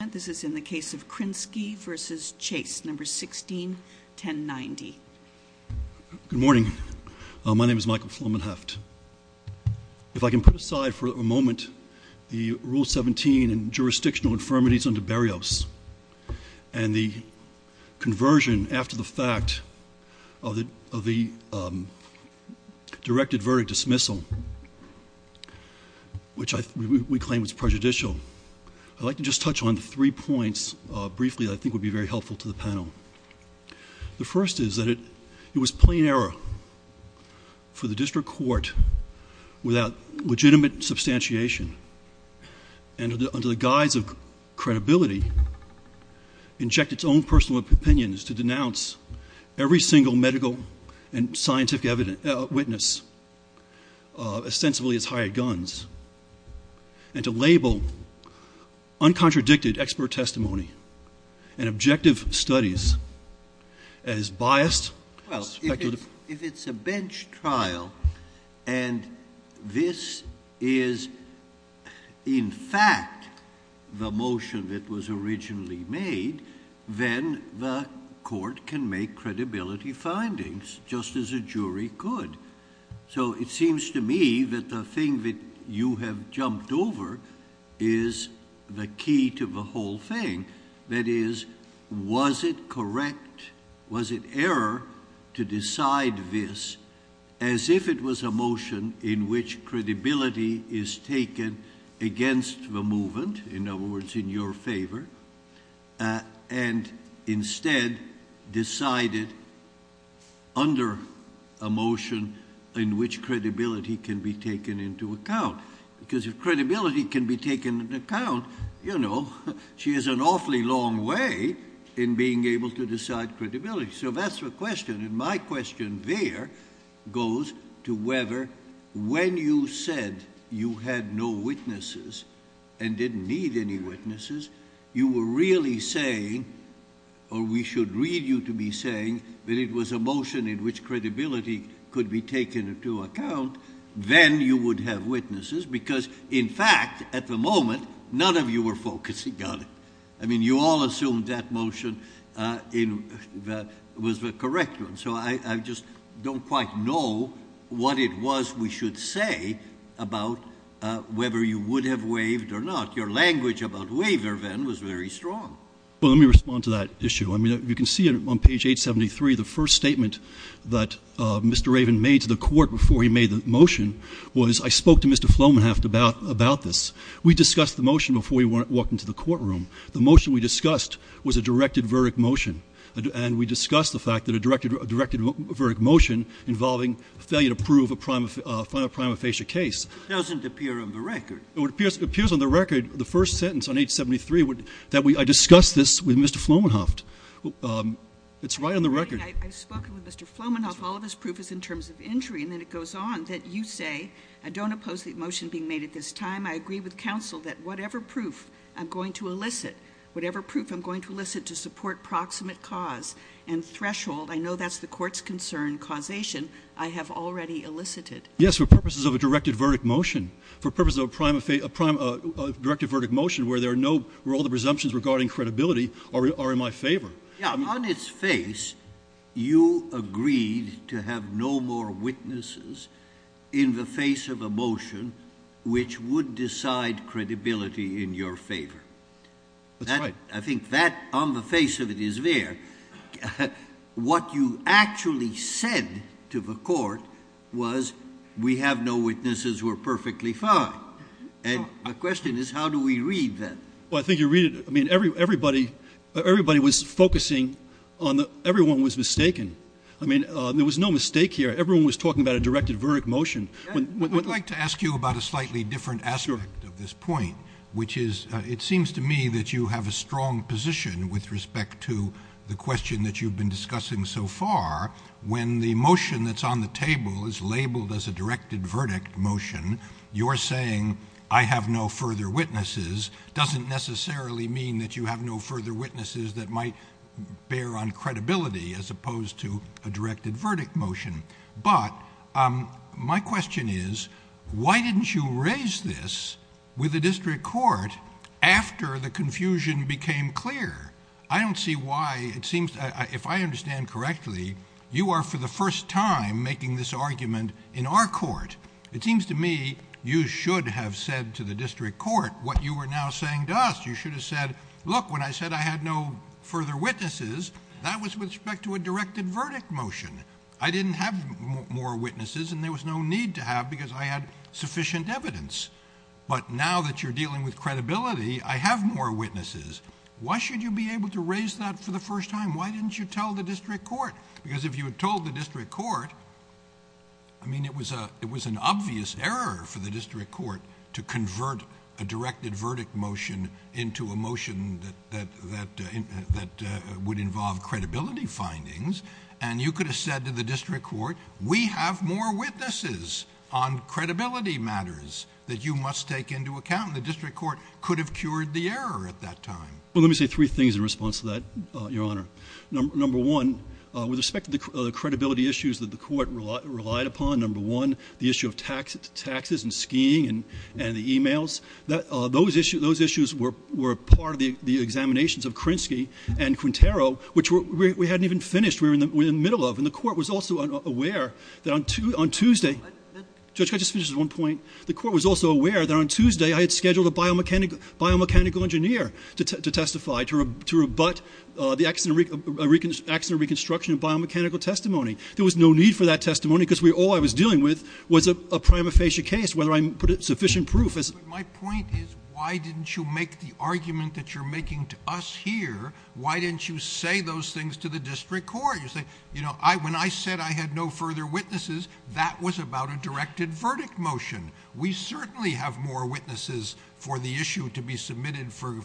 Good morning. My name is Michael Flomenheft. If I can put aside for a moment the Rule 17 and jurisdictional infirmities under Berrios and the conversion after the fact of the directed verdict dismissal, which we claim was prejudicial, I'd like to just touch on three points briefly that I think would be very helpful to the panel. The first is that it was plain error for the district court, without legitimate substantiation, and under the guise of credibility, to inject its own personal opinions to denounce every single medical and scientific witness ostensibly as hired guns, and to label uncontradicted expert testimony and objective studies as biased and speculative. If it's a bench trial, and this is in fact the motion that was originally made, then the court can make credibility findings, just as a jury could. So it seems to me that the thing that you have jumped over is the key to the whole thing. That is, was it correct, was it error, to decide this as if it was a motion in which credibility is taken against the movement, in other words, in your favor, and instead decided under a motion in which credibility can be taken into account? Because if credibility can be taken into account, you know, she has an awfully long way in being able to decide credibility. So that's the question, and my question there goes to whether when you said you had no witnesses and didn't need any witnesses, you were really saying, or we should read you to be saying, that it was a motion in which credibility could be taken into account, then you would have witnesses, because in fact, at the moment, none of you were focusing on it. I mean, you all assumed that motion was the correct one. So I just don't quite know what it was we should say about whether you would have waived or not. Your language about waiver, then, was very strong. Well, let me respond to that issue. I mean, you can see on page 873, the first statement that Mr. Raven made to the Court before he made the motion was, I spoke to Mr. Flomanhoft about this. We discussed the motion before we walked into the courtroom. The motion we discussed was a directed verdict motion, and we discussed the fact that a directed verdict motion involving failure to prove a final prima facie case. It doesn't appear on the record. It appears on the record, the first sentence on page 873, that I discussed this with Mr. Flomanhoft. It's right on the record. I've spoken with Mr. Flomanhoft. All of his proof is in terms of injury. And then it goes on that you say, I don't oppose the motion being made at this time. I agree with counsel that whatever proof I'm going to elicit, whatever proof I'm going to elicit to support proximate cause and threshold, I know that's the Court's concern, causation, I have already elicited. Yes, for purposes of a directed verdict motion. For purposes of a directive verdict motion where all the presumptions regarding credibility are in my favor. On its face, you agreed to have no more witnesses in the face of a motion which would decide credibility in your favor. That's right. I think that, on the face of it, is there. What you actually said to the Court was, we have no witnesses, we're perfectly fine. And the question is, how do we read that? Well, I think you read it, I mean, everybody, everybody was focusing on the, everyone was mistaken. I mean, there was no mistake here. Everyone was talking about a directed verdict motion. I'd like to ask you about a slightly different aspect of this point, which is, it seems to me that you have a strong position with respect to the question that you've been discussing so far. When the motion that's on the table is labeled as a directed verdict motion, you're saying, I have no further witnesses, doesn't necessarily mean that you have no further witnesses that might bear on credibility as opposed to a directed verdict motion. But my question is, why didn't you raise this with the District Court after the confusion became clear? I don't see why, it seems, if I understand correctly, you are for the first time making this argument in our Court. It seems to me you should have said to the District Court what you were now saying to us. You should have said, look, when I said I had no further witnesses, that was with respect to a directed verdict motion. I didn't have more witnesses and there was no need to have because I had sufficient evidence. But now that you're dealing with credibility, I have more witnesses. Why should you be able to raise that for the first time? Why didn't you tell the District Court? Because if you told the District Court, I mean, it was an obvious error for the District Court to convert a directed verdict motion into a motion that would involve credibility findings. And you could have said to the District Court, we have more witnesses on credibility matters that you must take into account. And the District Court could have cured the error at that time. Well, let me say three things in response to that, Your Honor. Number one, with respect to the credibility issues that the Court relied upon, number one, the issue of taxes and skiing and the emails, those issues were part of the examinations of Krinsky and Quintero, which we hadn't even finished. We were in the middle of. And the Court was also aware that on Tuesday, Judge, can I just finish with one point? The Court was also aware that on Tuesday, I had scheduled a biomechanical engineer to testify, to rebut the accident reconstruction and biomechanical testimony. There was no need for that testimony because all I was dealing with was a prima facie case, whether I put sufficient proof. My point is, why didn't you make the argument that you're making to us here? Why didn't you say those things to the District Court? You say, you know, when I said I had no further witnesses, that was about a directed verdict motion. We certainly have more witnesses for the issue to be submitted for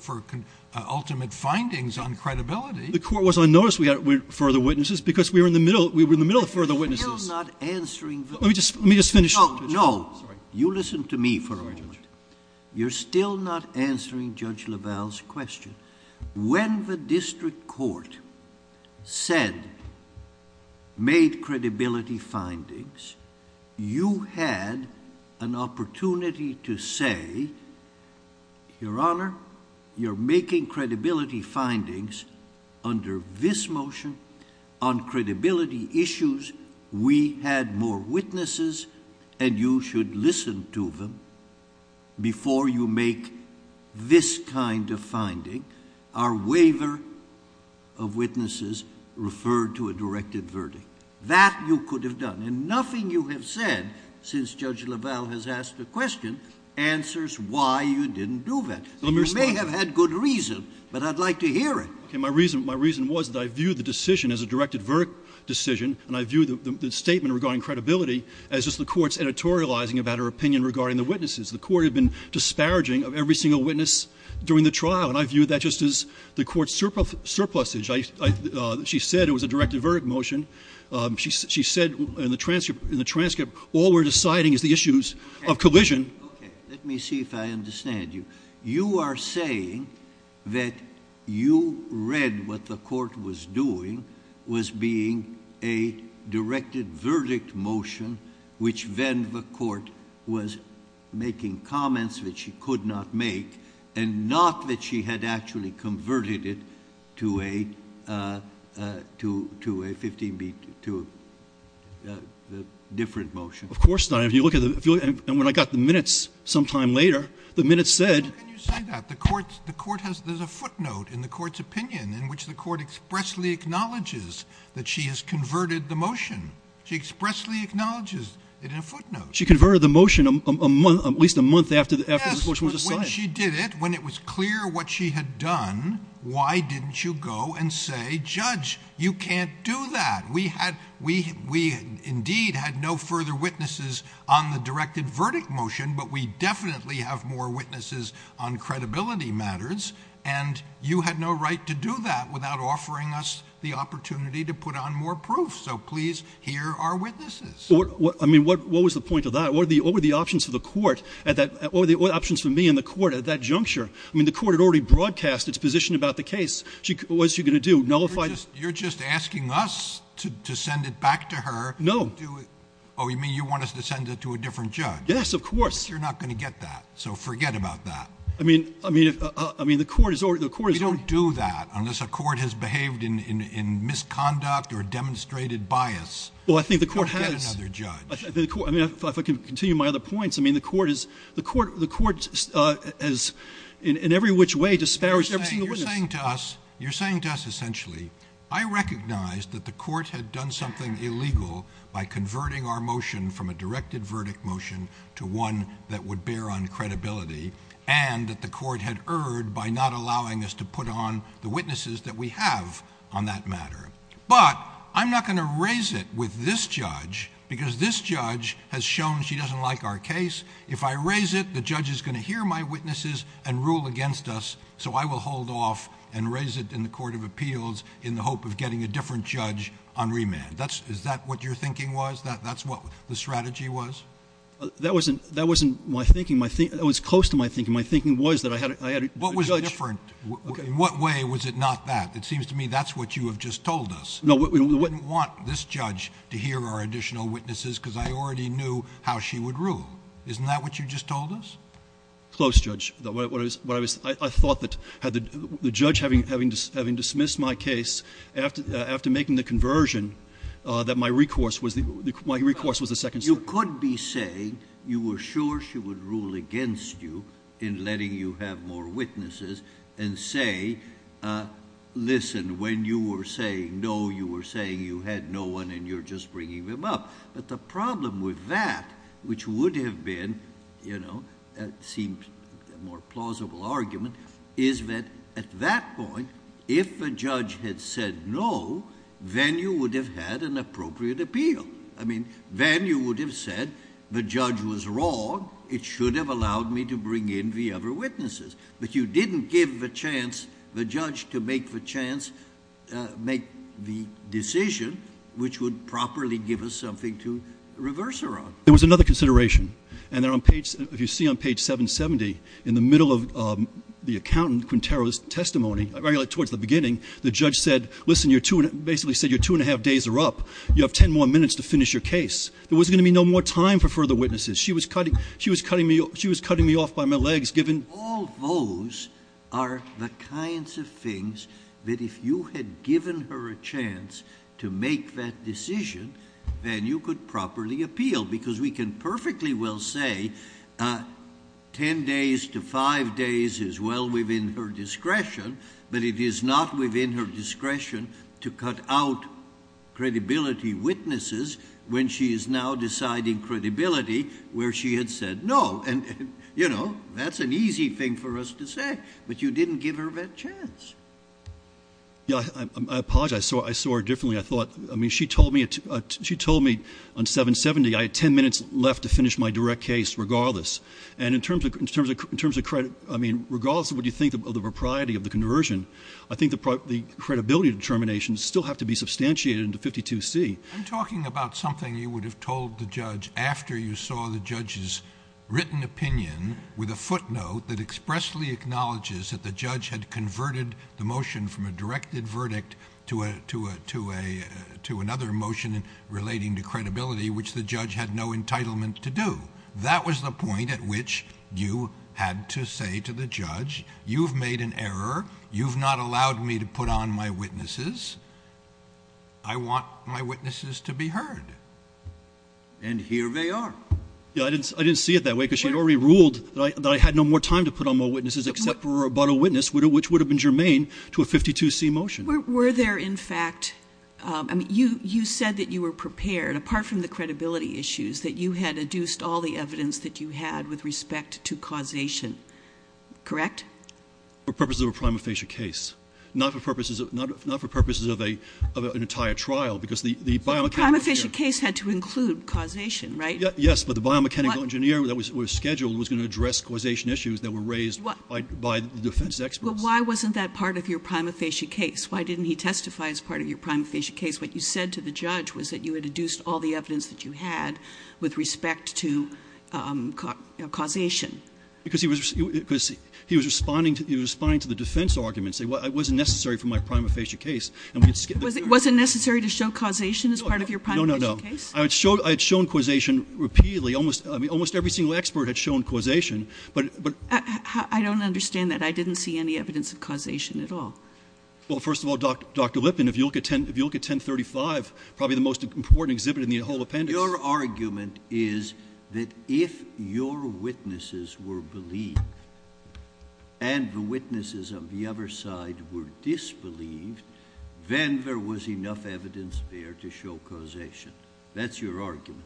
ultimate findings on credibility. The Court was on notice we had further witnesses because we were in the middle of further witnesses. You're still not answering the question. Let me just finish. No, no. You listen to me for a moment. You're still not answering Judge LaValle's question. When the District Court said, made credibility findings, you had an opportunity to say, Your Honor, you're making credibility findings under this motion on credibility issues. We had more witnesses, and you should listen to them before you make this kind of finding, our waiver of witnesses referred to a directed verdict. That you could have done. And nothing you have said since Judge LaValle has asked the question answers why you didn't do that. Let me respond to that. You may have had good reason, but I'd like to hear it. Okay. My reason was that I viewed the decision as a directed verdict decision, and I viewed the statement regarding credibility as just the Court's editorializing about her opinion regarding the witnesses. The Court had been disparaging of every single witness during the trial, and I viewed that just as the Court's surplusage. She said it was a directed verdict motion. She said in the transcript, all we're deciding is the issues of collision. Okay. Let me see if I understand you. You are saying that you read what the Court was doing was being a directed verdict motion, which then the Court was making comments that she could not make, and not that she had actually converted it to a 15B, to a different motion. Of course not. If you look at the, and when I got the minutes sometime later, the minutes said. Well, can you say that? The Court has, there's a footnote in the Court's opinion in which the Court expressly acknowledges that she has converted the motion. She expressly acknowledges it in a footnote. She converted the motion a month, at least a month after the motion was assigned. Yes, when she did it, when it was clear what she had done, why didn't you go and say, Judge, you can't do that. We had, we indeed had no further witnesses on the directed verdict motion, but we definitely have more witnesses on credibility matters, and you had no right to do that without offering us the opportunity to put on more proof, so please hear our witnesses. I mean, what was the point of that? What were the options for the Court at that, what were the options for me and the Court at that juncture? I mean, the Court had already broadcast its position about the case. What was she going to do? Nullify it? You're just asking us to send it back to her. No. Oh, you mean you want us to send it to a different judge? Yes, of course. You're not going to get that, so forget about that. I mean, I mean, the Court has already. We don't do that unless a court has behaved in misconduct or demonstrated bias. Well, I think the Court has. Go get another judge. I mean, if I can continue my other points, I mean, the Court is, the Court, the Court has in every which way disparaged every single witness. You're saying to us, you're saying to us essentially, I recognize that the Court had done something illegal by converting our motion from a directed verdict motion to one that would bear on credibility, and that the Court had erred by not allowing us to put on the witnesses that we have on that matter. But I'm not going to raise it with this judge because this judge has shown she doesn't like our case. If I raise it, the judge is going to hear my witnesses and rule against us, so I will hold off and raise it in the Court of Appeals in the hope of getting a different judge on remand. That's, is that what your thinking was? That, that's what the strategy was? That wasn't, that wasn't my thinking. My thinking, that was close to my thinking. My thinking was that I had, I had a judge. But in a different, in what way was it not that? It seems to me that's what you have just told us. No, what, what. You wouldn't want this judge to hear our additional witnesses because I already knew how she would rule. Isn't that what you just told us? Close, Judge. What I was, what I was, I, I thought that had the, the judge having, having, having dismissed my case after, after making the conversion, that my recourse was the, my recourse was the second step. You could be saying you were sure she would rule against you in letting you have more witnesses and say, uh, listen, when you were saying no, you were saying you had no one and you're just bringing them up. But the problem with that, which would have been, you know, uh, seemed a more plausible argument, is that at that point, if the judge had said no, then you would have had an appropriate appeal. I mean, then you would have said the judge was wrong. It should have allowed me to bring in the other witnesses, but you didn't give the chance, the judge to make the chance, uh, make the decision, which would properly give us something to reverse her on. There was another consideration and they're on page, if you see on page 770, in the middle of, um, the accountant, Quintero's testimony, really towards the beginning, the judge said, listen, you're two and basically said you're two and a half days are up, you have 10 more minutes to finish your case. There wasn't going to be no more time for further witnesses. She was cutting, she was cutting me off. She was cutting me off by my legs, given all those are the kinds of things that if you had given her a chance to make that decision, then you could properly appeal because we can perfectly well say, uh, 10 days to five days as well within her discretion, but it is not within her discretion to cut out credibility witnesses when she is now deciding credibility where she had said no, and you know, that's an easy thing for us to say, but you didn't give her that chance. Yeah, I apologize. So I saw her differently. I thought, I mean, she told me, she told me on 770, I had 10 minutes left to finish my direct case regardless. And in terms of, in terms of, in terms of credit, I mean, regardless of what you think of the propriety of the conversion, I think the credibility determinations still have to be substantiated in the 52C. I'm talking about something you would have told the judge after you saw the judge's written opinion with a footnote that expressly acknowledges that the judge had converted the motion from a directed verdict to a, to a, to a, to another motion relating to credibility, which the judge had no entitlement to do. That was the point at which you had to say to the judge, you've made an error. You've not allowed me to put on my witnesses. I want my witnesses to be heard. And here they are. Yeah. I didn't, I didn't see it that way because she had already ruled that I, that I had no more time to put on my witnesses, except for about a witness, which would have been germane to a 52C motion. Were there in fact, um, I mean, you, you said that you were prepared apart from the credibility issues that you had adduced all the evidence that you had with respect to causation, correct? The prima facie case had to include causation, right? Yes. But the biomechanical engineer that was scheduled was going to address causation issues that were raised by the defense experts. Why wasn't that part of your prima facie case? Why didn't he testify as part of your prima facie case? What you said to the judge was that you had adduced all the evidence that you had with respect to, um, causation. Because he was, because he was responding to the, he was responding to the defense arguments, say, well, it wasn't necessary for my prima facie case. And we could skip it. Was it necessary to show causation as part of your prima facie case? No, no, no. I had shown, I had shown causation repeatedly. Almost, I mean, almost every single expert had shown causation, but, but. I don't understand that. I didn't see any evidence of causation at all. Well, first of all, Dr. Lippin, if you look at 10, if you look at 1035, probably the most important exhibit in the whole appendix. Your argument is that if your witnesses were believed and the witnesses of the other side were disbelieved, then there was enough evidence there to show causation. That's your argument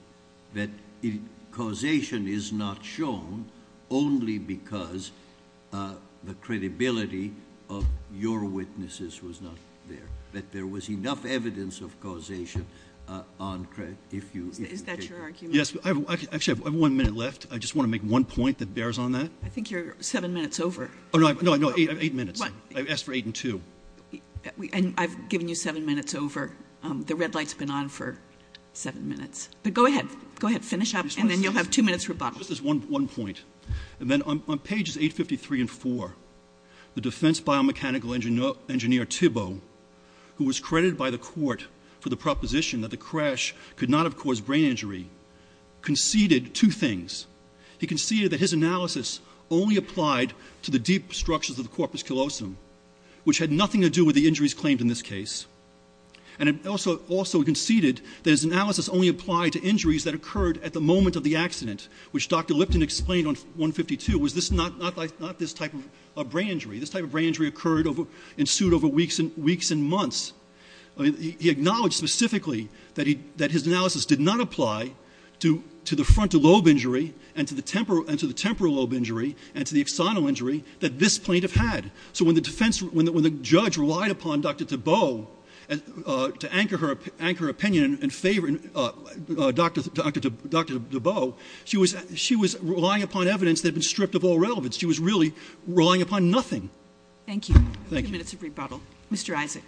that causation is not shown only because, uh, the credibility of your witnesses was not there, that there was enough evidence of causation, uh, on credit. If you, is that your argument? Yes, I actually have one minute left. I just want to make one point that bears on that. I think you're seven minutes over. Oh no, no, no. Eight, eight minutes. I asked for eight and two. And I've given you seven minutes over. Um, the red light's been on for seven minutes, but go ahead, go ahead, finish up, and then you'll have two minutes rebuttal, just this one, one point. And then on pages eight 53 and four, the defense biomechanical engineer, engineer Thibault, who was credited by the court for the proposition that the crash could not have caused brain injury conceded two things. He conceded that his analysis only applied to the deep structures of the scleosome, which had nothing to do with the injuries claimed in this case. And it also, also conceded that his analysis only applied to injuries that occurred at the moment of the accident, which Dr. Lipton explained on one 52 was this not, not like not this type of a brain injury. This type of brain injury occurred over ensued over weeks and weeks and months. I mean, he acknowledged specifically that he, that his analysis did not apply to, to the frontal lobe injury and to the temporal and to the temporal lobe injury and to the external injury that this plaintiff had. So when the defense, when the, when the judge relied upon Dr. Thibault, uh, to anchor her, anchor opinion and favor, uh, uh, Dr. Dr. Dr. Thibault, she was, she was relying upon evidence that had been stripped of all relevance. She was really relying upon nothing. Thank you. Thank you. Minutes of rebuttal. Mr. Isaac.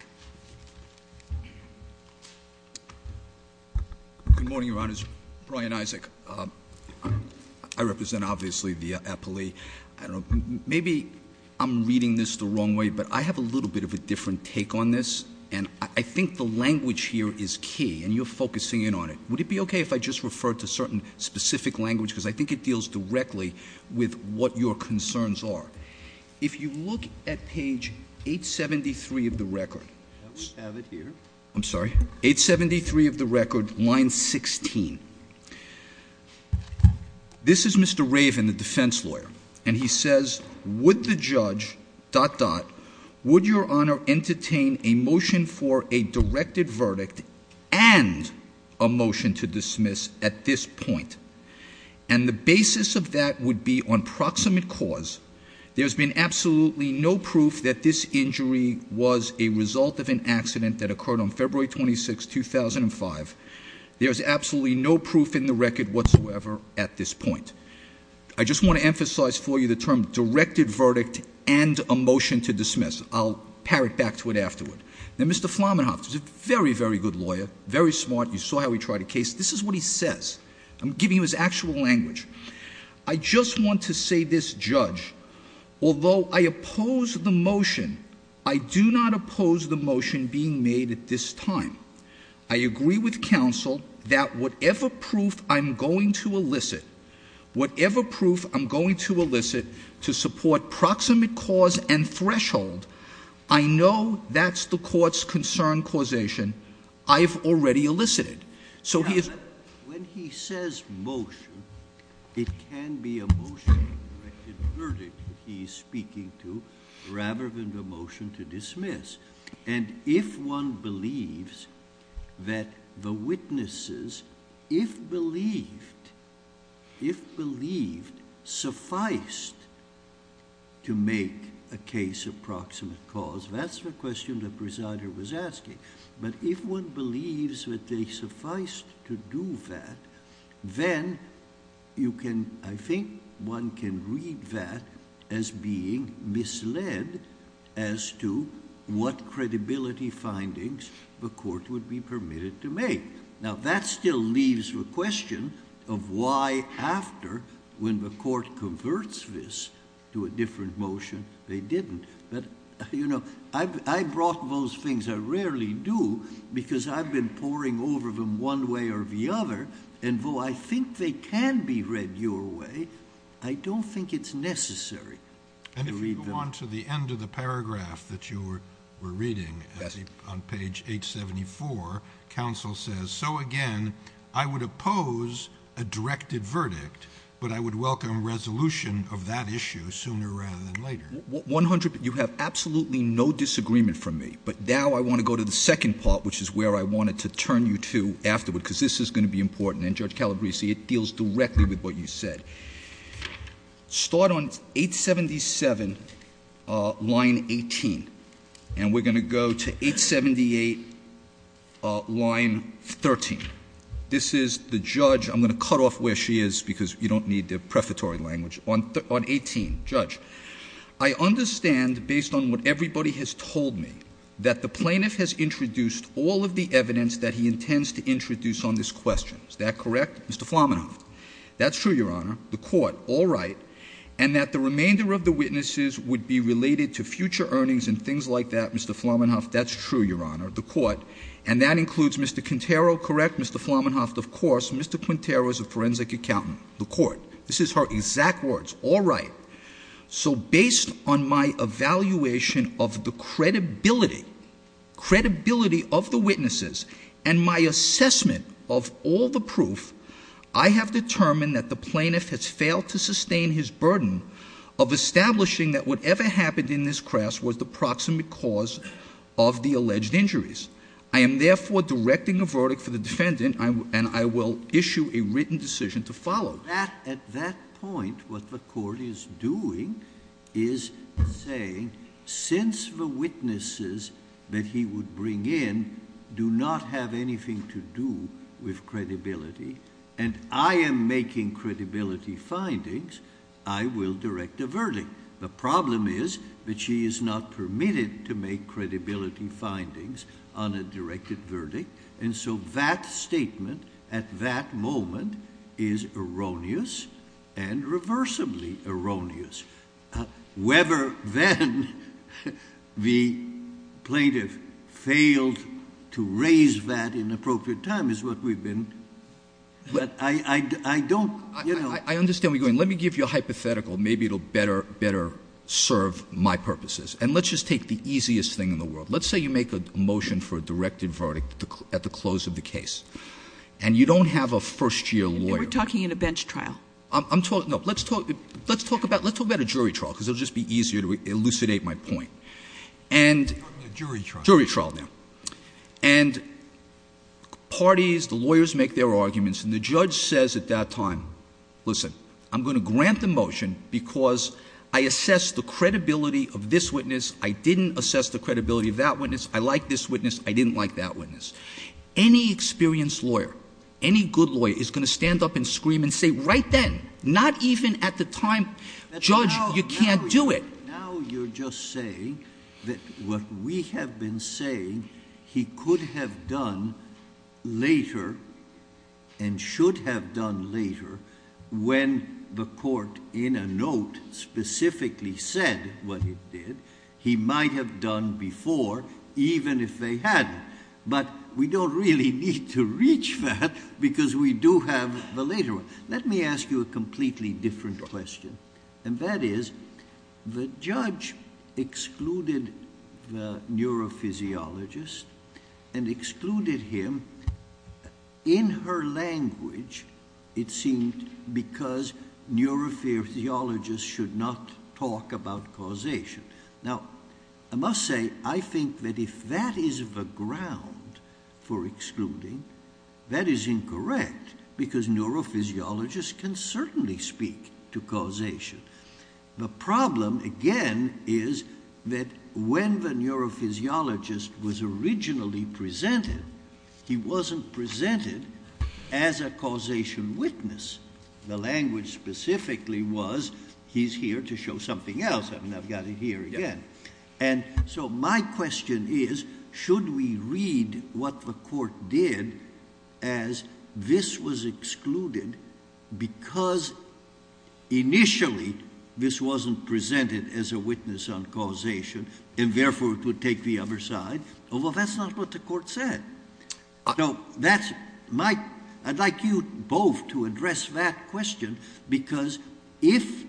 Good morning, your honors. Brian Isaac. Um, I represent obviously the appellee. I don't know, maybe I'm reading this the wrong way, but I have a little bit of a different take on this and I think the language here is key and you're focusing in on it. Would it be okay if I just referred to certain specific language? Because I think it deals directly with what your concerns are. If you look at page eight 73 of the record, I'm sorry, eight 73 of the record line 16, this is Mr. Raven, the defense lawyer. And he says, would the judge dot, dot, would your honor entertain a motion for a directed verdict and a motion to dismiss at this point? And the basis of that would be on proximate cause. There's been absolutely no proof that this injury was a result of an accident that occurred on February 26, 2005. There's absolutely no proof in the record whatsoever at this point. I just want to emphasize for you the term directed verdict and a motion to dismiss. I'll parrot back to it afterward. Then Mr. Flamenhoff is a very, very good lawyer. Very smart. You saw how he tried a case. This is what he says. I'm giving him his actual language. I just want to say this judge, although I oppose the motion, I do not oppose the motion made at this time. I agree with counsel that whatever proof I'm going to elicit, whatever proof I'm going to elicit to support proximate cause and threshold, I know that's the court's concern causation. I've already elicited. So when he says motion, it can be a motion directed verdict he's speaking to rather than the motion to dismiss. And if one believes that the witnesses, if believed, if believed, sufficed to make a case of proximate cause, that's the question the presider was asking. But if one believes that they sufficed to do that, then you can, I think one can read that as being misled as to what credibility findings the court would be permitted to make. Now that still leaves the question of why after when the court converts this to a different motion, they didn't. But you know, I brought those things. I rarely do because I've been pouring over them one way or the other. And though I think they can be read your way. I don't think it's necessary. And if you go on to the end of the paragraph that you were reading on page 874 council says, so again, I would oppose a directed verdict, but I would welcome resolution of that issue sooner rather than later. What 100, you have absolutely no disagreement from me, but now I want to go to the second part, which is where I wanted to turn you to afterward, because this is going to be important. And judge Calabresi, it deals directly with what you said. Start on eight 77, uh, line 18. And we're going to go to eight 78, uh, line 13. This is the judge. I'm going to cut off where she is because you don't need the prefatory language on, on 18 judge. I understand based on what everybody has told me that the plaintiff has introduced all of the evidence that he intends to introduce on this question. Is that correct? Mr. That's true. Your honor, the court. All right. And that the remainder of the witnesses would be related to future earnings and things like that. Mr. That's true. Your honor, the court, and that includes Mr. Quintero. Correct. Mr. Of course, Mr. Quintero is a forensic accountant, the court. This is her exact words. All right. So based on my evaluation of the credibility, credibility of the I have determined that the plaintiff has failed to sustain his burden of establishing that whatever happened in this crash was the proximate cause of the alleged injuries. I am therefore directing a verdict for the defendant. I, and I will issue a written decision to follow that at that point, what the court is doing is saying, since the witnesses that he would bring in, do not have anything to do with credibility. And I am making credibility findings. I will direct a verdict. The problem is that she is not permitted to make credibility findings on a directed verdict. And so that statement at that moment is erroneous and reversibly erroneous. Weber, then the plaintiff failed to raise that in appropriate time is what we've been. But I, I, I don't, you know, I understand where you're going. Let me give you a hypothetical. Maybe it'll better, better serve my purposes. And let's just take the easiest thing in the world. Let's say you make a motion for a directed verdict at the close of the case, and you don't have a first year lawyer. We're talking in a bench trial. I'm talking, no, let's talk, let's talk about, let's talk about a jury trial. Cause it'll just be easier to elucidate my point and jury trial now and parties, the lawyers make their arguments and the judge says at that time, listen, I'm going to grant the motion because I assess the credibility of this witness. I didn't assess the credibility of that witness. I like this witness. I didn't like that witness. Any experienced lawyer, any good lawyer is going to stand up and scream and say right then, not even at the time, judge, you can't do it. Now you're just saying that what we have been saying, he could have done later and should have done later when the court in a note specifically said what it did, he might have done before, even if they hadn't, but we don't really need to reach that because we do have the later one. Let me ask you a completely different question. And that is the judge excluded the neurophysiologist and excluded him in her language, it seemed because neurophysiologist should not talk about causation. Now I must say, I think that if that is the ground for excluding, that is incorrect because neurophysiologists can certainly speak to causation. The problem again is that when the neurophysiologist was originally presented, he wasn't presented as a causation witness. The language specifically was he's here to show something else. And I've got it here again. And so my question is, should we read what the court did as this was excluded because initially this wasn't presented as a witness on causation and therefore it would take the other side. Oh, well, that's not what the court said. No, that's my, I'd like you both to address that question because if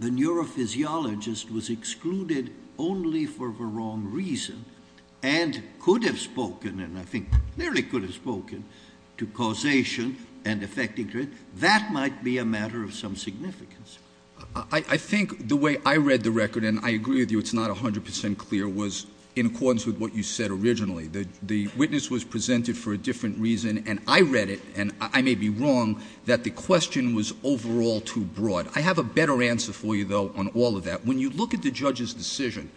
the neurophysiologist was excluded only for the wrong reason and could have spoken, and I think nearly could have spoken to causation and effecting to it, that might be a matter of some significance. I think the way I read the record, and I agree with you, it's not a hundred percent clear was in accordance with what you said originally, that the witness was presented for a different reason. And I read it and I may be wrong that the question was overall too broad. I have a better answer for you though, on all of that. When you look at the judge's decision,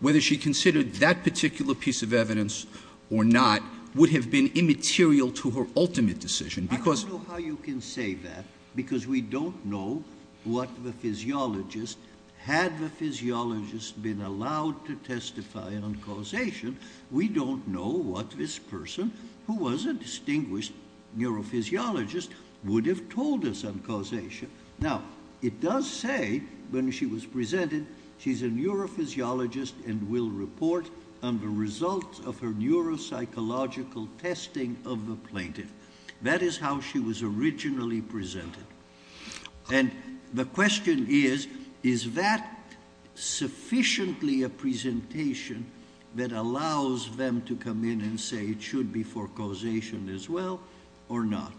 whether she considered that particular piece of evidence or not would have been immaterial to her ultimate decision. I don't know how you can say that because we don't know what the physiologist, had the physiologist been allowed to testify on causation. We don't know what this person who was a distinguished neurophysiologist would have told us on causation. Now it does say when she was presented, she's a neurophysiologist and will report on the results of her neuropsychological testing of the plaintiff. That is how she was originally presented. And the question is, is that sufficiently a presentation that allows them to come in and say it should be for causation as well or not?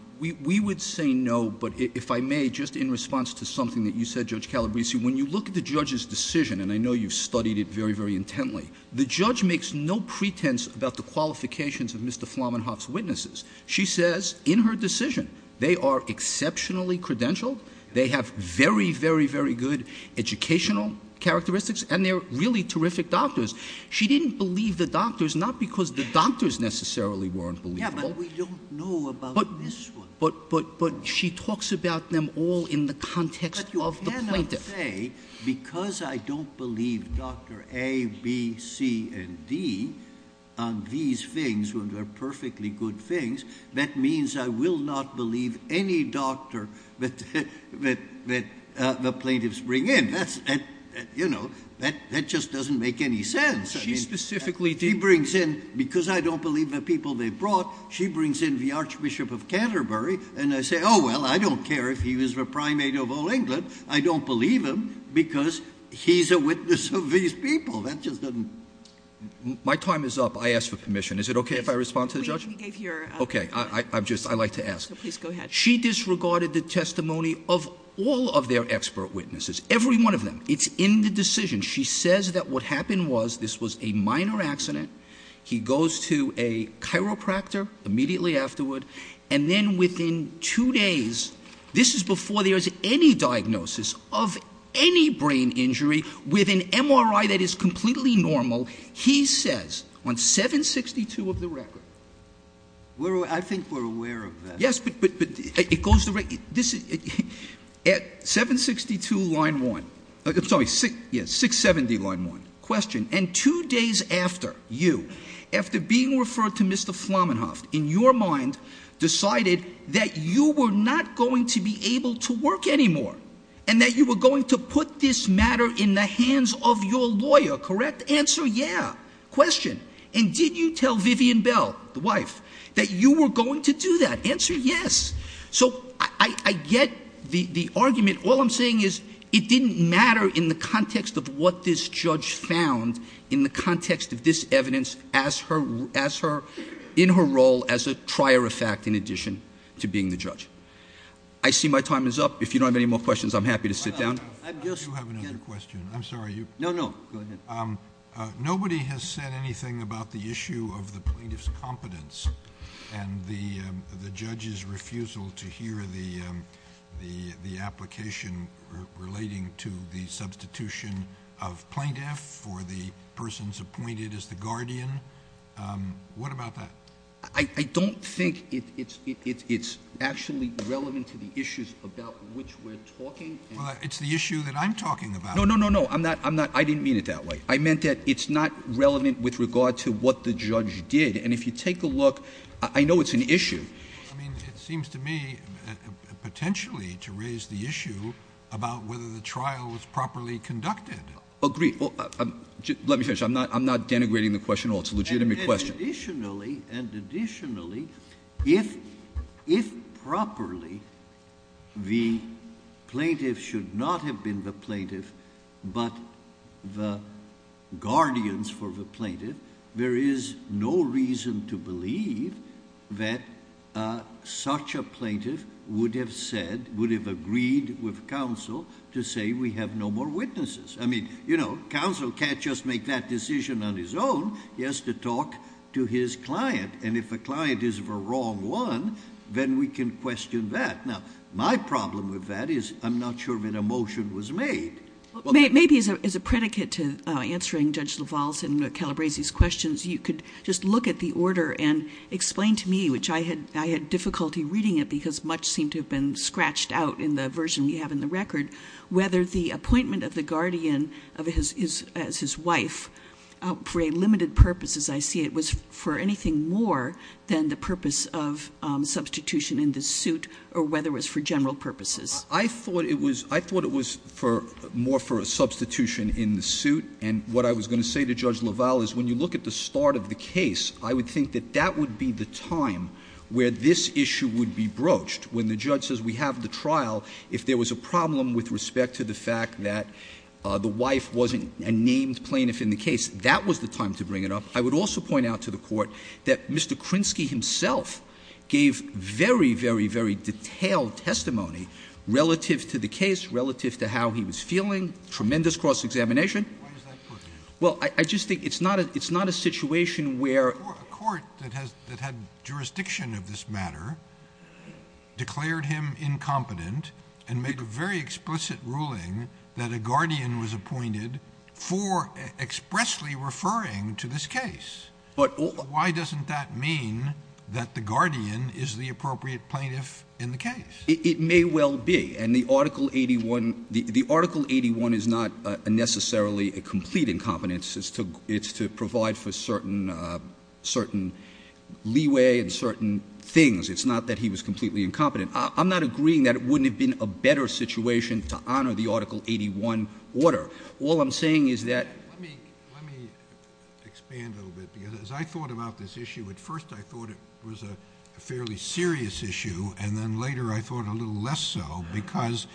We would say no, but if I may, just in response to something that you said, Judge Calabresi, when you look at the judge's decision, and I know you've studied it very, very intently, the judge makes no pretense about the qualifications of Mr. Flamenhoff's witnesses. She says in her decision, they are exceptionally credentialed. They have very, very, very good educational characteristics and they're really terrific doctors. She didn't believe the doctors, not because the doctors necessarily weren't believable. But we don't know about this one. But, but, but she talks about them all in the context of the plaintiff. But you cannot say, because I don't believe Dr. A, B, C, and D on these things, when they're perfectly good things, that means I will not believe any doctor that the plaintiffs bring in. That's, you know, that just doesn't make any sense. She specifically did. She brings in, because I don't believe the people they brought, she brings in the Archbishop of Canterbury and I say, oh, well, I don't care if he was the primate of all England. I don't believe him because he's a witness of these people. That just doesn't. My time is up. I asked for permission. Is it okay if I respond to the judge? Okay. I, I'm just, I like to ask. She disregarded the testimony of all of their expert witnesses. Every one of them. It's in the decision. She says that what happened was this was a minor accident. He goes to a chiropractor immediately afterward. And then within two days, this is before there's any diagnosis of any brain injury with an MRI that is completely normal. He says on 762 of the record. We're, I think we're aware of that. Yes, but, but, but it goes the right, this is at 762 line one. It's only six, yes. Six, seven D line one question. And two days after you, after being referred to Mr. Flammenhoff in your mind decided that you were not going to be able to work anymore and that you were going to put this matter in the hands of your lawyer. Correct answer. Yeah. Question. And did you tell Vivian bell, the wife that you were going to do that answer? Yes. So I get the argument. All I'm saying is it didn't matter in the context of what this judge found in the context of this evidence as her, as her in her role as a trier of fact, in addition to being the judge, I see my time is up. If you don't have any more questions, I'm happy to sit down. I guess you have another question. I'm sorry. You know, no, go ahead. Um, uh, nobody has said anything about the issue of the plaintiff's competence and the, um, the judge's refusal to hear the, um, the, the application relating to the substitution of plaintiff for the person's appointed as the guardian. Um, what about that? I don't think it's, it's, it's, it's actually relevant to the issues about which we're talking. Well, it's the issue that I'm talking about. No, no, no, no. I'm not, I'm not, I didn't mean it that way. I meant that it's not relevant with regard to what the judge did. And if you take a look, I know it's an issue. I mean, it seems to me potentially to raise the issue about whether the trial was properly conducted. Agreed. Well, let me finish. I'm not, I'm not denigrating the question at all. It's a legitimate question. Additionally, and additionally, if, if properly the plaintiff should not have been the plaintiff, but the guardians for the plaintiff, there is no reason to believe that, uh, such a plaintiff would have said, would have agreed with counsel to say, we have no more witnesses. I mean, you know, counsel can't just make that decision on his own. He has to talk to his client. And if a client is the wrong one, then we can question that. Now, my problem with that is I'm not sure when a motion was made. Well, maybe as a, as a predicate to answering Judge LaValle's and Calabresi's questions, you could just look at the order and explain to me, which I had, I had difficulty reading it because much seemed to have been scratched out in the version we have in the record, whether the appointment of the guardian of his, his, as his wife, uh, for a limited purpose, as I see it was for anything more than the purpose of, um, substitution in the suit or whether it was for general purposes. I thought it was, I thought it was for more for a substitution in the suit. And what I was going to say to Judge LaValle is when you look at the start of the case, I would think that that would be the time where this issue would be broached when the judge says we have the trial, if there was a problem with respect to the fact that, uh, the wife wasn't a named plaintiff in the case, that was the time to bring it up. I would also point out to the court that Mr. LaValle had a very, very, very detailed testimony relative to the case, relative to how he was feeling, tremendous cross-examination. Well, I just think it's not a, it's not a situation where... A court that has, that had jurisdiction of this matter declared him incompetent and make a very explicit ruling that a guardian was appointed for expressly referring to this case. But why doesn't that mean that the guardian is the appropriate plaintiff in the case? It may well be. And the article 81, the article 81 is not a necessarily a complete incompetence. It's to, it's to provide for certain, uh, certain leeway and certain things. It's not that he was completely incompetent. I'm not agreeing that it wouldn't have been a better situation to honor the article 81 order. All I'm saying is that... Let me, let me expand a little bit, because as I thought about this issue, at first I thought it was a fairly serious issue. And then later I thought a little less so because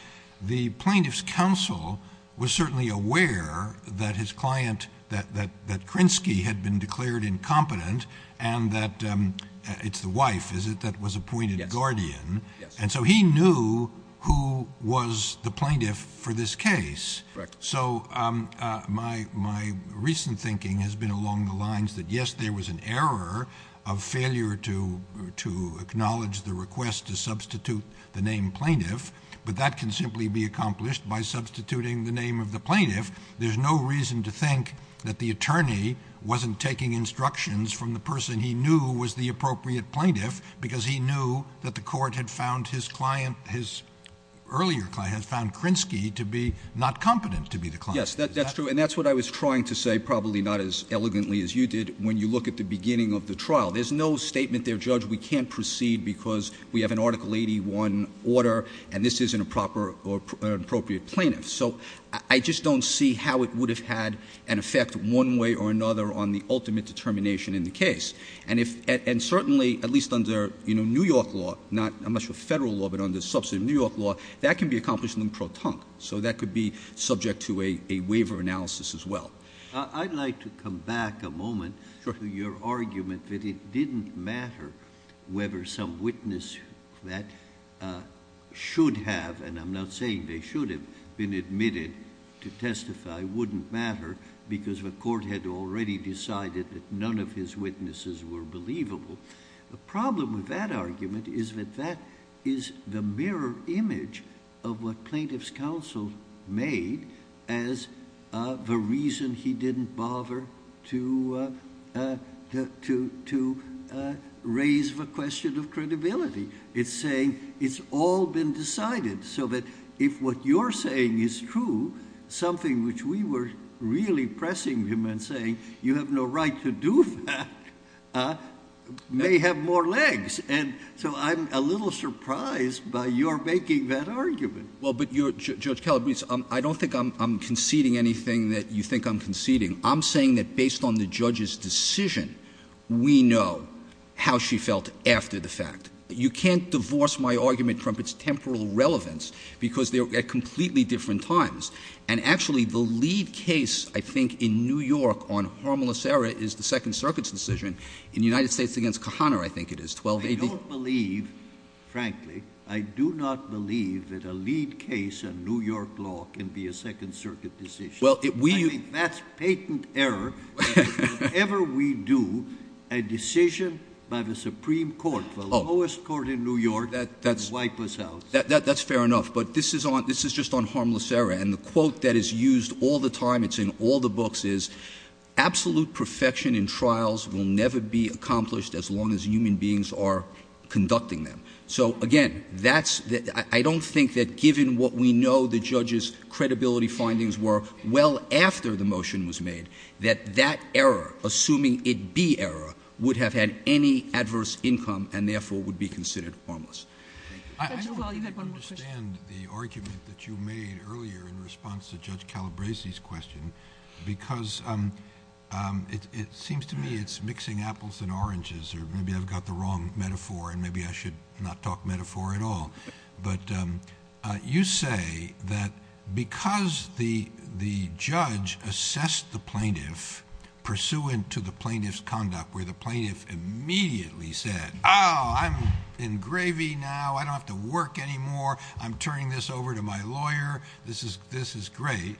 the plaintiff's counsel was certainly aware that his client, that, that, that Krinsky had been declared incompetent and that, um, it's the wife, is it? That was appointed guardian. And so he knew who was the plaintiff for this case. So, um, uh, my, my recent thinking has been along the lines that yes, there was an error of failure to, to acknowledge the request to substitute the name plaintiff, but that can simply be accomplished by substituting the name of the plaintiff. There's no reason to think that the attorney wasn't taking instructions from the person he knew was the appropriate plaintiff, because he knew that the court had found his client, his earlier client had found Krinsky to be not competent to be the client. Yes, that's true. And that's what I was trying to say, probably not as elegantly as you did. When you look at the beginning of the trial, there's no statement there, judge, we can't proceed because we have an article 81 order, and this isn't a proper or appropriate plaintiff. So I just don't see how it would have had an effect one way or another on the ultimate determination in the case. And if, and certainly at least under, you know, New York law, not much of a federal law, but on the subsidy of New York law, that can be accomplished in the pro-tunc. So that could be subject to a waiver analysis as well. I'd like to come back a moment to your argument that it didn't matter whether some witness that should have, and I'm not saying they should have been admitted to testify, wouldn't matter because the court had already decided that none of his witnesses were believable. The problem with that argument is that that is the mirror image of what he was saying. He didn't bother to, uh, uh, to, to, uh, raise the question of credibility. It's saying it's all been decided. So that if what you're saying is true, something which we were really pressing him and saying, you have no right to do that, uh, may have more legs. And so I'm a little surprised by your making that argument. Well, but you're, Judge Calabrese, um, I don't think I'm conceding anything that you think I'm conceding. I'm saying that based on the judge's decision, we know how she felt after the fact that you can't divorce my argument from its temporal relevance because they're at completely different times. And actually the lead case, I think in New York on harmless error is the second circuit's decision in the United States against Kahana. I think it is. Well, I don't believe, frankly, I do not believe that a lead case and New York law can be a second circuit decision. Well, that's patent error. Whenever we do a decision by the Supreme court, the lowest court in New York, that's fair enough, but this is on, this is just on harmless error. And the quote that is used all the time. It's in all the books is absolute perfection in trials will never be accomplished as long as human beings are conducting them. So again, that's the, I don't think that given what we know, the judge's credibility findings were well after the motion was made that that error, assuming it be error would have had any adverse income and therefore would be considered harmless. I don't understand the argument that you made earlier in response to judge Calabresi's question, because, um, um, it, it seems to me it's mixing apples and oranges, or maybe I've got the wrong metaphor and maybe I should not talk metaphor at all. But, um, uh, you say that because the, the judge assessed the plaintiff pursuant to the plaintiff's conduct where the plaintiff immediately said, Oh, I'm in gravy now, I don't have to work anymore. I'm turning this over to my lawyer. This is, this is great.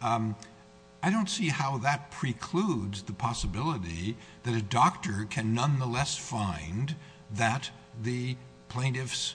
Um, I don't see how that precludes the possibility that a doctor can nonetheless find that the plaintiff's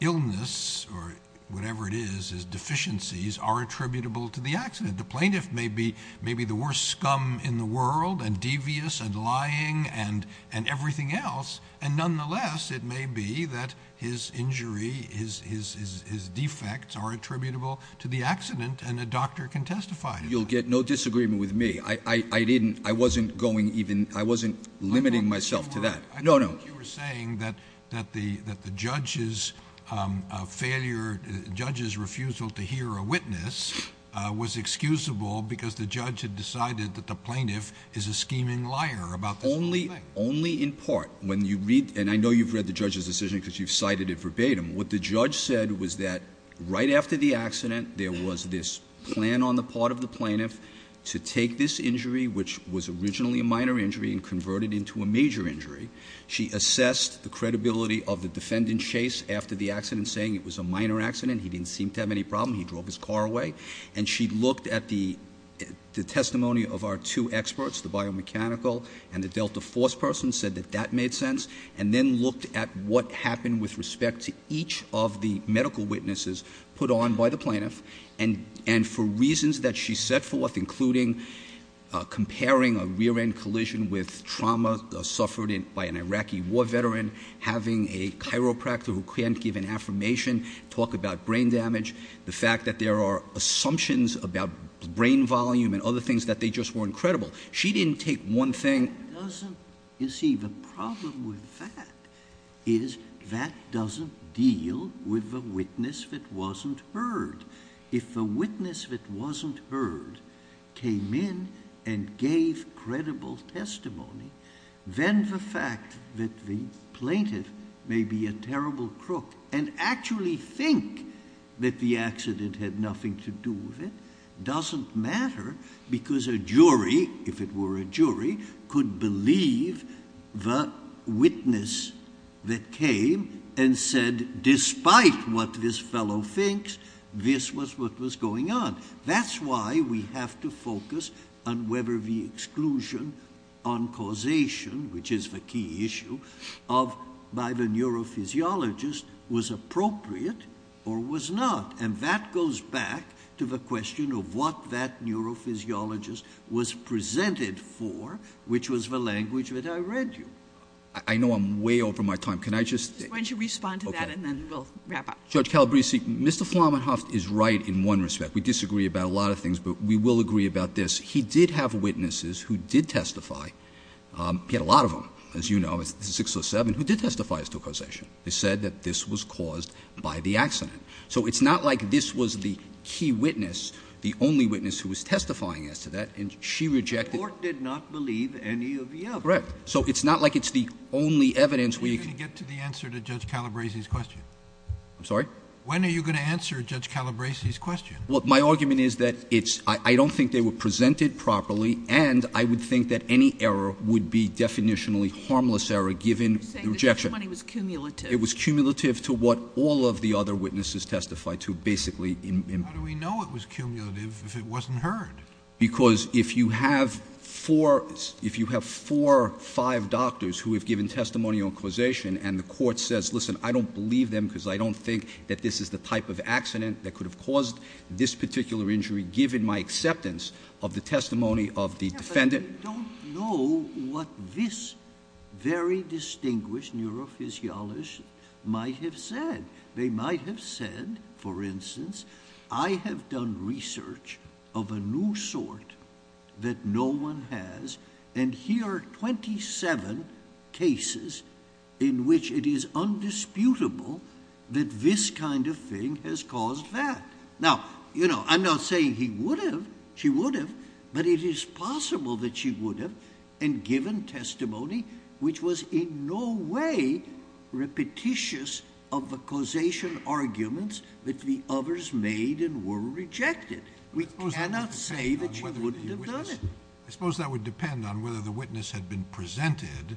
illness or whatever it is, his deficiencies are attributable to the accident. The plaintiff may be, may be the worst scum in the world and devious and lying and, and everything else. And nonetheless, it may be that his injury is, is, is, is defects are attributable to the accident. And a doctor can testify. You'll get no disagreement with me. I, I, I didn't, I wasn't going even, I wasn't limiting myself to that. No, no. You were saying that, that the, that the judge's, um, uh, failure, judge's refusal to hear a witness, uh, was excusable because the judge had decided that the plaintiff is a scheming liar about the only, only in part when you read, and I know you've read the judge's decision because you've cited it verbatim. What the judge said was that right after the accident, there was this plan on the part of the plaintiff to take this injury, which was originally a minor injury and convert it into a major injury, she assessed the credibility of the defendant Chase after the accident saying it was a minor accident. He didn't seem to have any problem. He drove his car away and she looked at the, the testimony of our two experts, the biomechanical and the Delta force person said that that made sense. And then looked at what happened with respect to each of the medical witnesses put on by the plaintiff. And, and for reasons that she set forth, including, uh, comparing a rear end collision with trauma, uh, suffered by an Iraqi war veteran, having a chiropractor who can't give an affirmation, talk about brain damage, the fact that there are assumptions about brain volume and other things that they just weren't credible, she didn't take one thing. Doesn't you see the problem with that is that doesn't deal with the witness that wasn't heard. If the witness that wasn't heard came in and gave credible testimony, then the fact that the plaintiff may be a terrible crook and actually think that the accident had nothing to do with it doesn't matter because a jury, if it were a jury could believe the witness that came and said, despite what this fellow thinks, this was what was going on. That's why we have to focus on whether the exclusion on causation, which is the key issue of by the neurophysiologist was appropriate or was not. And that goes back to the question of what that neurophysiologist was presented for, which was the language that I read you. I know I'm way over my time. Can I just respond to that? And then we'll wrap up. Judge Calabresi. Mr. Flamenhoff is right in one respect. We disagree about a lot of things, but we will agree about this. He did have witnesses who did testify. Um, he had a lot of them, as you know, it's six or seven who did testify as to causation. They said that this was caused by the accident. So it's not like this was the key witness, the only witness who was testifying as to that. And she rejected, did not believe any of the correct. So it's not like it's the only evidence we get to the answer to judge Calabresi his question. I'm sorry. When are you going to answer judge Calabresi his question? Well, my argument is that it's, I don't think they were presented properly. And I would think that any error would be definitionally harmless error. Given the rejection, it was cumulative to what all of the other witnesses testified to basically in, in, how do we know it was cumulative if it wasn't heard? Because if you have four, if you have four or five doctors who have given testimony on causation and the court says, listen, I don't believe them because I don't think that this is the type of accident that could have caused this particular injury, given my acceptance of the testimony of the defendant. Don't know what this very distinguished neurophysiologist might have said. They might have said, for instance, I have done research of a new sort that no one has, and here are 27 cases in which it is undisputable that this kind of thing has caused that. Now, you know, I'm not saying he would have, she would have, but it is possible that she would have and given testimony, which was in no way repetitious of the causation arguments that the others made and were rejected. We cannot say that she wouldn't have done it. I suppose that would depend on whether the witness had been presented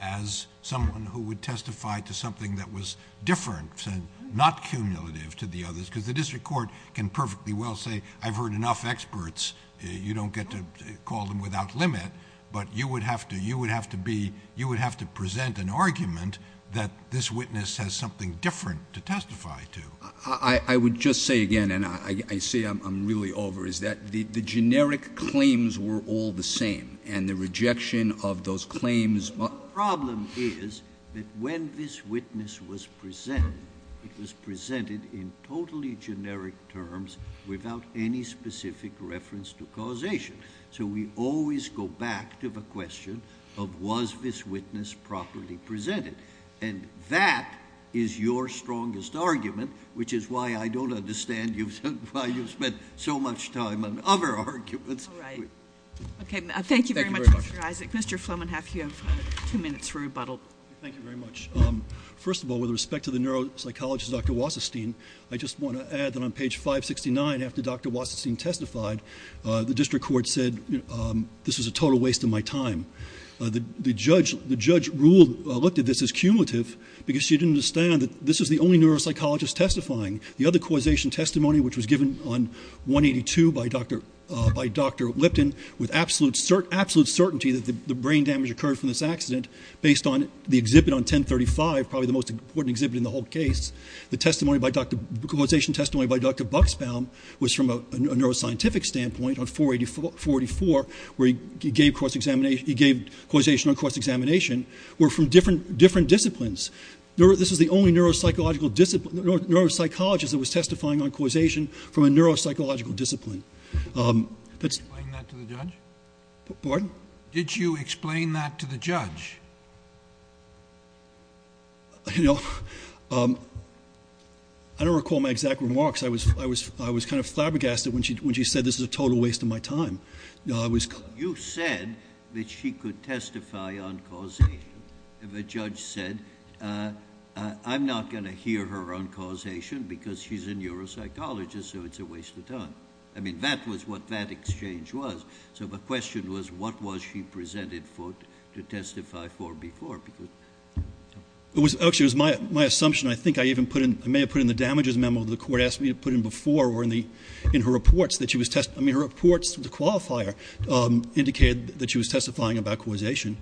as someone who would testify to something that was different, not cumulative to the others, because the district court can perfectly well say, I've heard enough experts. You don't get to call them without limit, but you would have to, you would have to present an argument that this witness has something different to testify to. I would just say again, and I say I'm really over is that the generic claims were all the same and the rejection of those claims. Problem is that when this witness was presented, it was presented in totally generic terms without any specific reference to causation. So we always go back to the question of, was this witness properly presented? And that is your strongest argument, which is why I don't understand you, why you've spent so much time on other arguments. Okay. Thank you very much, Mr. Isaac. Flomenhaf, you have two minutes for rebuttal. Thank you very much. Um, first of all, with respect to the neuropsychologist, Dr. Wasserstein, I just want to add that on page 569, after Dr. Court said, um, this was a total waste of my time. Uh, the, the judge, the judge ruled, uh, looked at this as cumulative because she didn't understand that this was the only neuropsychologist testifying the other causation testimony, which was given on one 82 by Dr. Uh, by Dr. Lipton with absolute cert, absolute certainty that the brain damage occurred from this accident based on the exhibit on 1035, probably the most important exhibit in the whole case. The testimony by Dr causation testimony by Dr. was from a neuroscientific standpoint on four 84, 44, where he gave course examination, he gave causation on course examination were from different, different disciplines. No, this was the only neuropsychological discipline neuropsychologist that was testifying on causation from a neuropsychological discipline. Um, that's pardon? Did you explain that to the judge? You know, um, I don't recall my exact remarks. I was, I was, I was kind of flabbergasted when she, when she said this is a total waste of my time. No, I was, you said that she could testify on causation. If a judge said, uh, uh, I'm not going to hear her on causation because she's a neuropsychologist, so it's a waste of time. I mean, that was what that exchange was. So the question was, what was she presented foot to testify for before? It was actually, it was my, my assumption. I think I even put in, I may have put in the damages memo to the put in before or in the, in her reports that she was test. I mean, her reports, the qualifier, um, indicated that she was testifying about causation.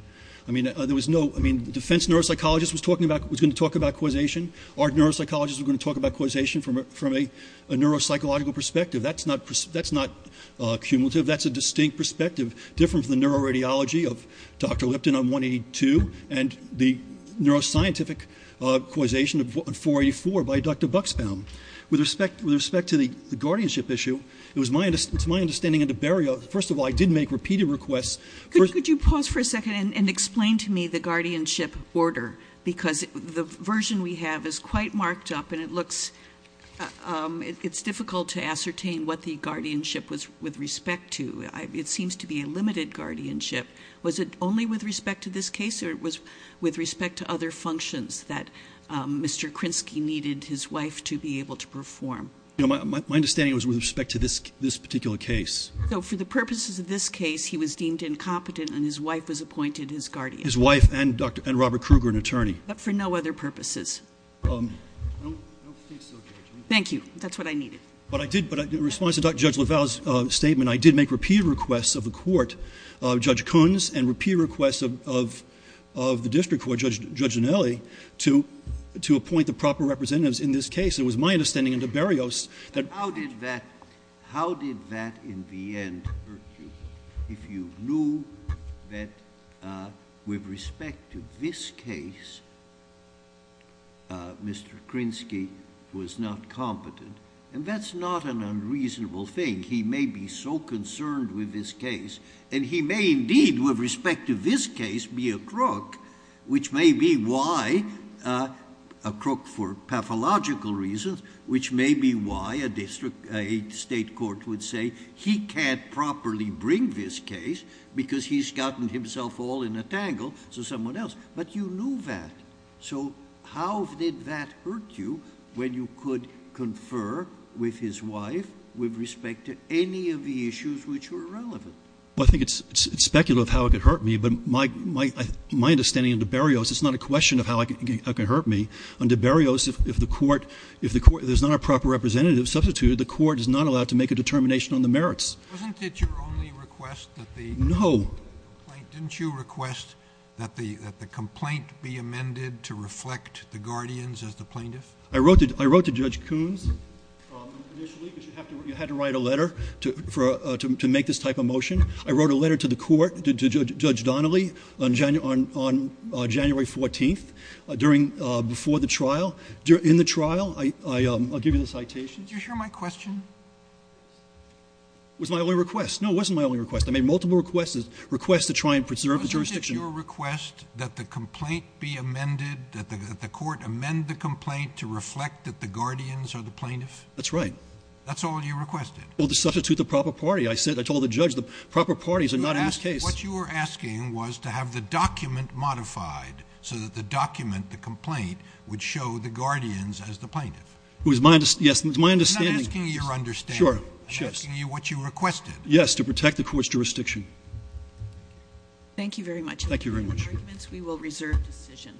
I mean, there was no, I mean, the defense neuropsychologist was talking about, was going to talk about causation. Our neuropsychologists are going to talk about causation from a, from a, a neuropsychological perspective. That's not, that's not a cumulative. That's a distinct perspective, different from the neuroradiology of Dr. Lipton on 182 and the neuroscientific causation of 484 by Dr. Buxbaum with respect, with respect to the guardianship issue. It was my, it's my understanding of the burial. First of all, I did make repeated requests. Could you pause for a second and explain to me the guardianship order? Because the version we have is quite marked up and it looks, um, it's difficult to ascertain what the guardianship was with respect to. I, it seems to be a limited guardianship. Was it only with respect to this case or was with respect to other functions that, um, Mr. Krinsky needed his wife to be able to perform? You know, my, my, my understanding was with respect to this, this particular case. So for the purposes of this case, he was deemed incompetent and his wife was appointed his guardian. His wife and Dr. and Robert Kruger, an attorney. But for no other purposes. Um, I don't, I don't think so. Thank you. That's what I needed. But I did, but in response to Dr. Judge LaValle's, uh, statement, I did make repeated requests of the court, uh, Judge Kuhn's and repeat requests of, of, of the district court, Judge, Judge Dinelli to, to appoint the proper representatives in this case. It was my understanding under Berrios that. How did that, how did that in the end hurt you? If you knew that, uh, with respect to this case, uh, Mr. Krinsky was not competent and that's not an unreasonable thing. He may be so concerned with this case and he may indeed with respect to this case, be a crook, which may be why, uh, a crook for pathological reasons, which may be why a district, a state court would say he can't properly bring this case because he's gotten himself all in a tangle. So someone else, but you knew that. So how did that hurt you when you could confer with his wife with respect to any of the issues which were relevant? Well, I think it's speculative how it could hurt me, but my, my, my understanding of the Berrios, it's not a question of how I can, I can hurt me under Berrios. If the court, if the court, there's not a proper representative substituted, the court is not allowed to make a determination on the merits. Wasn't it your only request that the complaint, didn't you request that the, that the complaint be amended to reflect the guardians as the plaintiff? I wrote it. I wrote to Judge Kuhn's. You have to, you had to write a letter to, for, uh, to, to make this type of motion. I wrote a letter to the court, to Judge Donnelly on January, on, on January 14th, uh, during, uh, before the trial during the trial, I, I, um, I'll give you the citation. Did you share my question? It was my only request. No, it wasn't my only request. I made multiple requests, requests to try and preserve the jurisdiction. Wasn't it your request that the complaint be amended, that the, that the court amend the complaint to reflect that the guardians are the plaintiff? That's right. That's all you requested? Well, to substitute the proper party. I said, I told the judge the proper parties are not in this case. What you were asking was to have the document modified so that the document, the complaint, would show the guardians as the plaintiff. It was my, yes, it was my understanding. I'm not asking you your understanding. Sure, sure. I'm asking you what you requested. Yes. To protect the court's jurisdiction. Thank you very much. Thank you very much. We will reserve decision.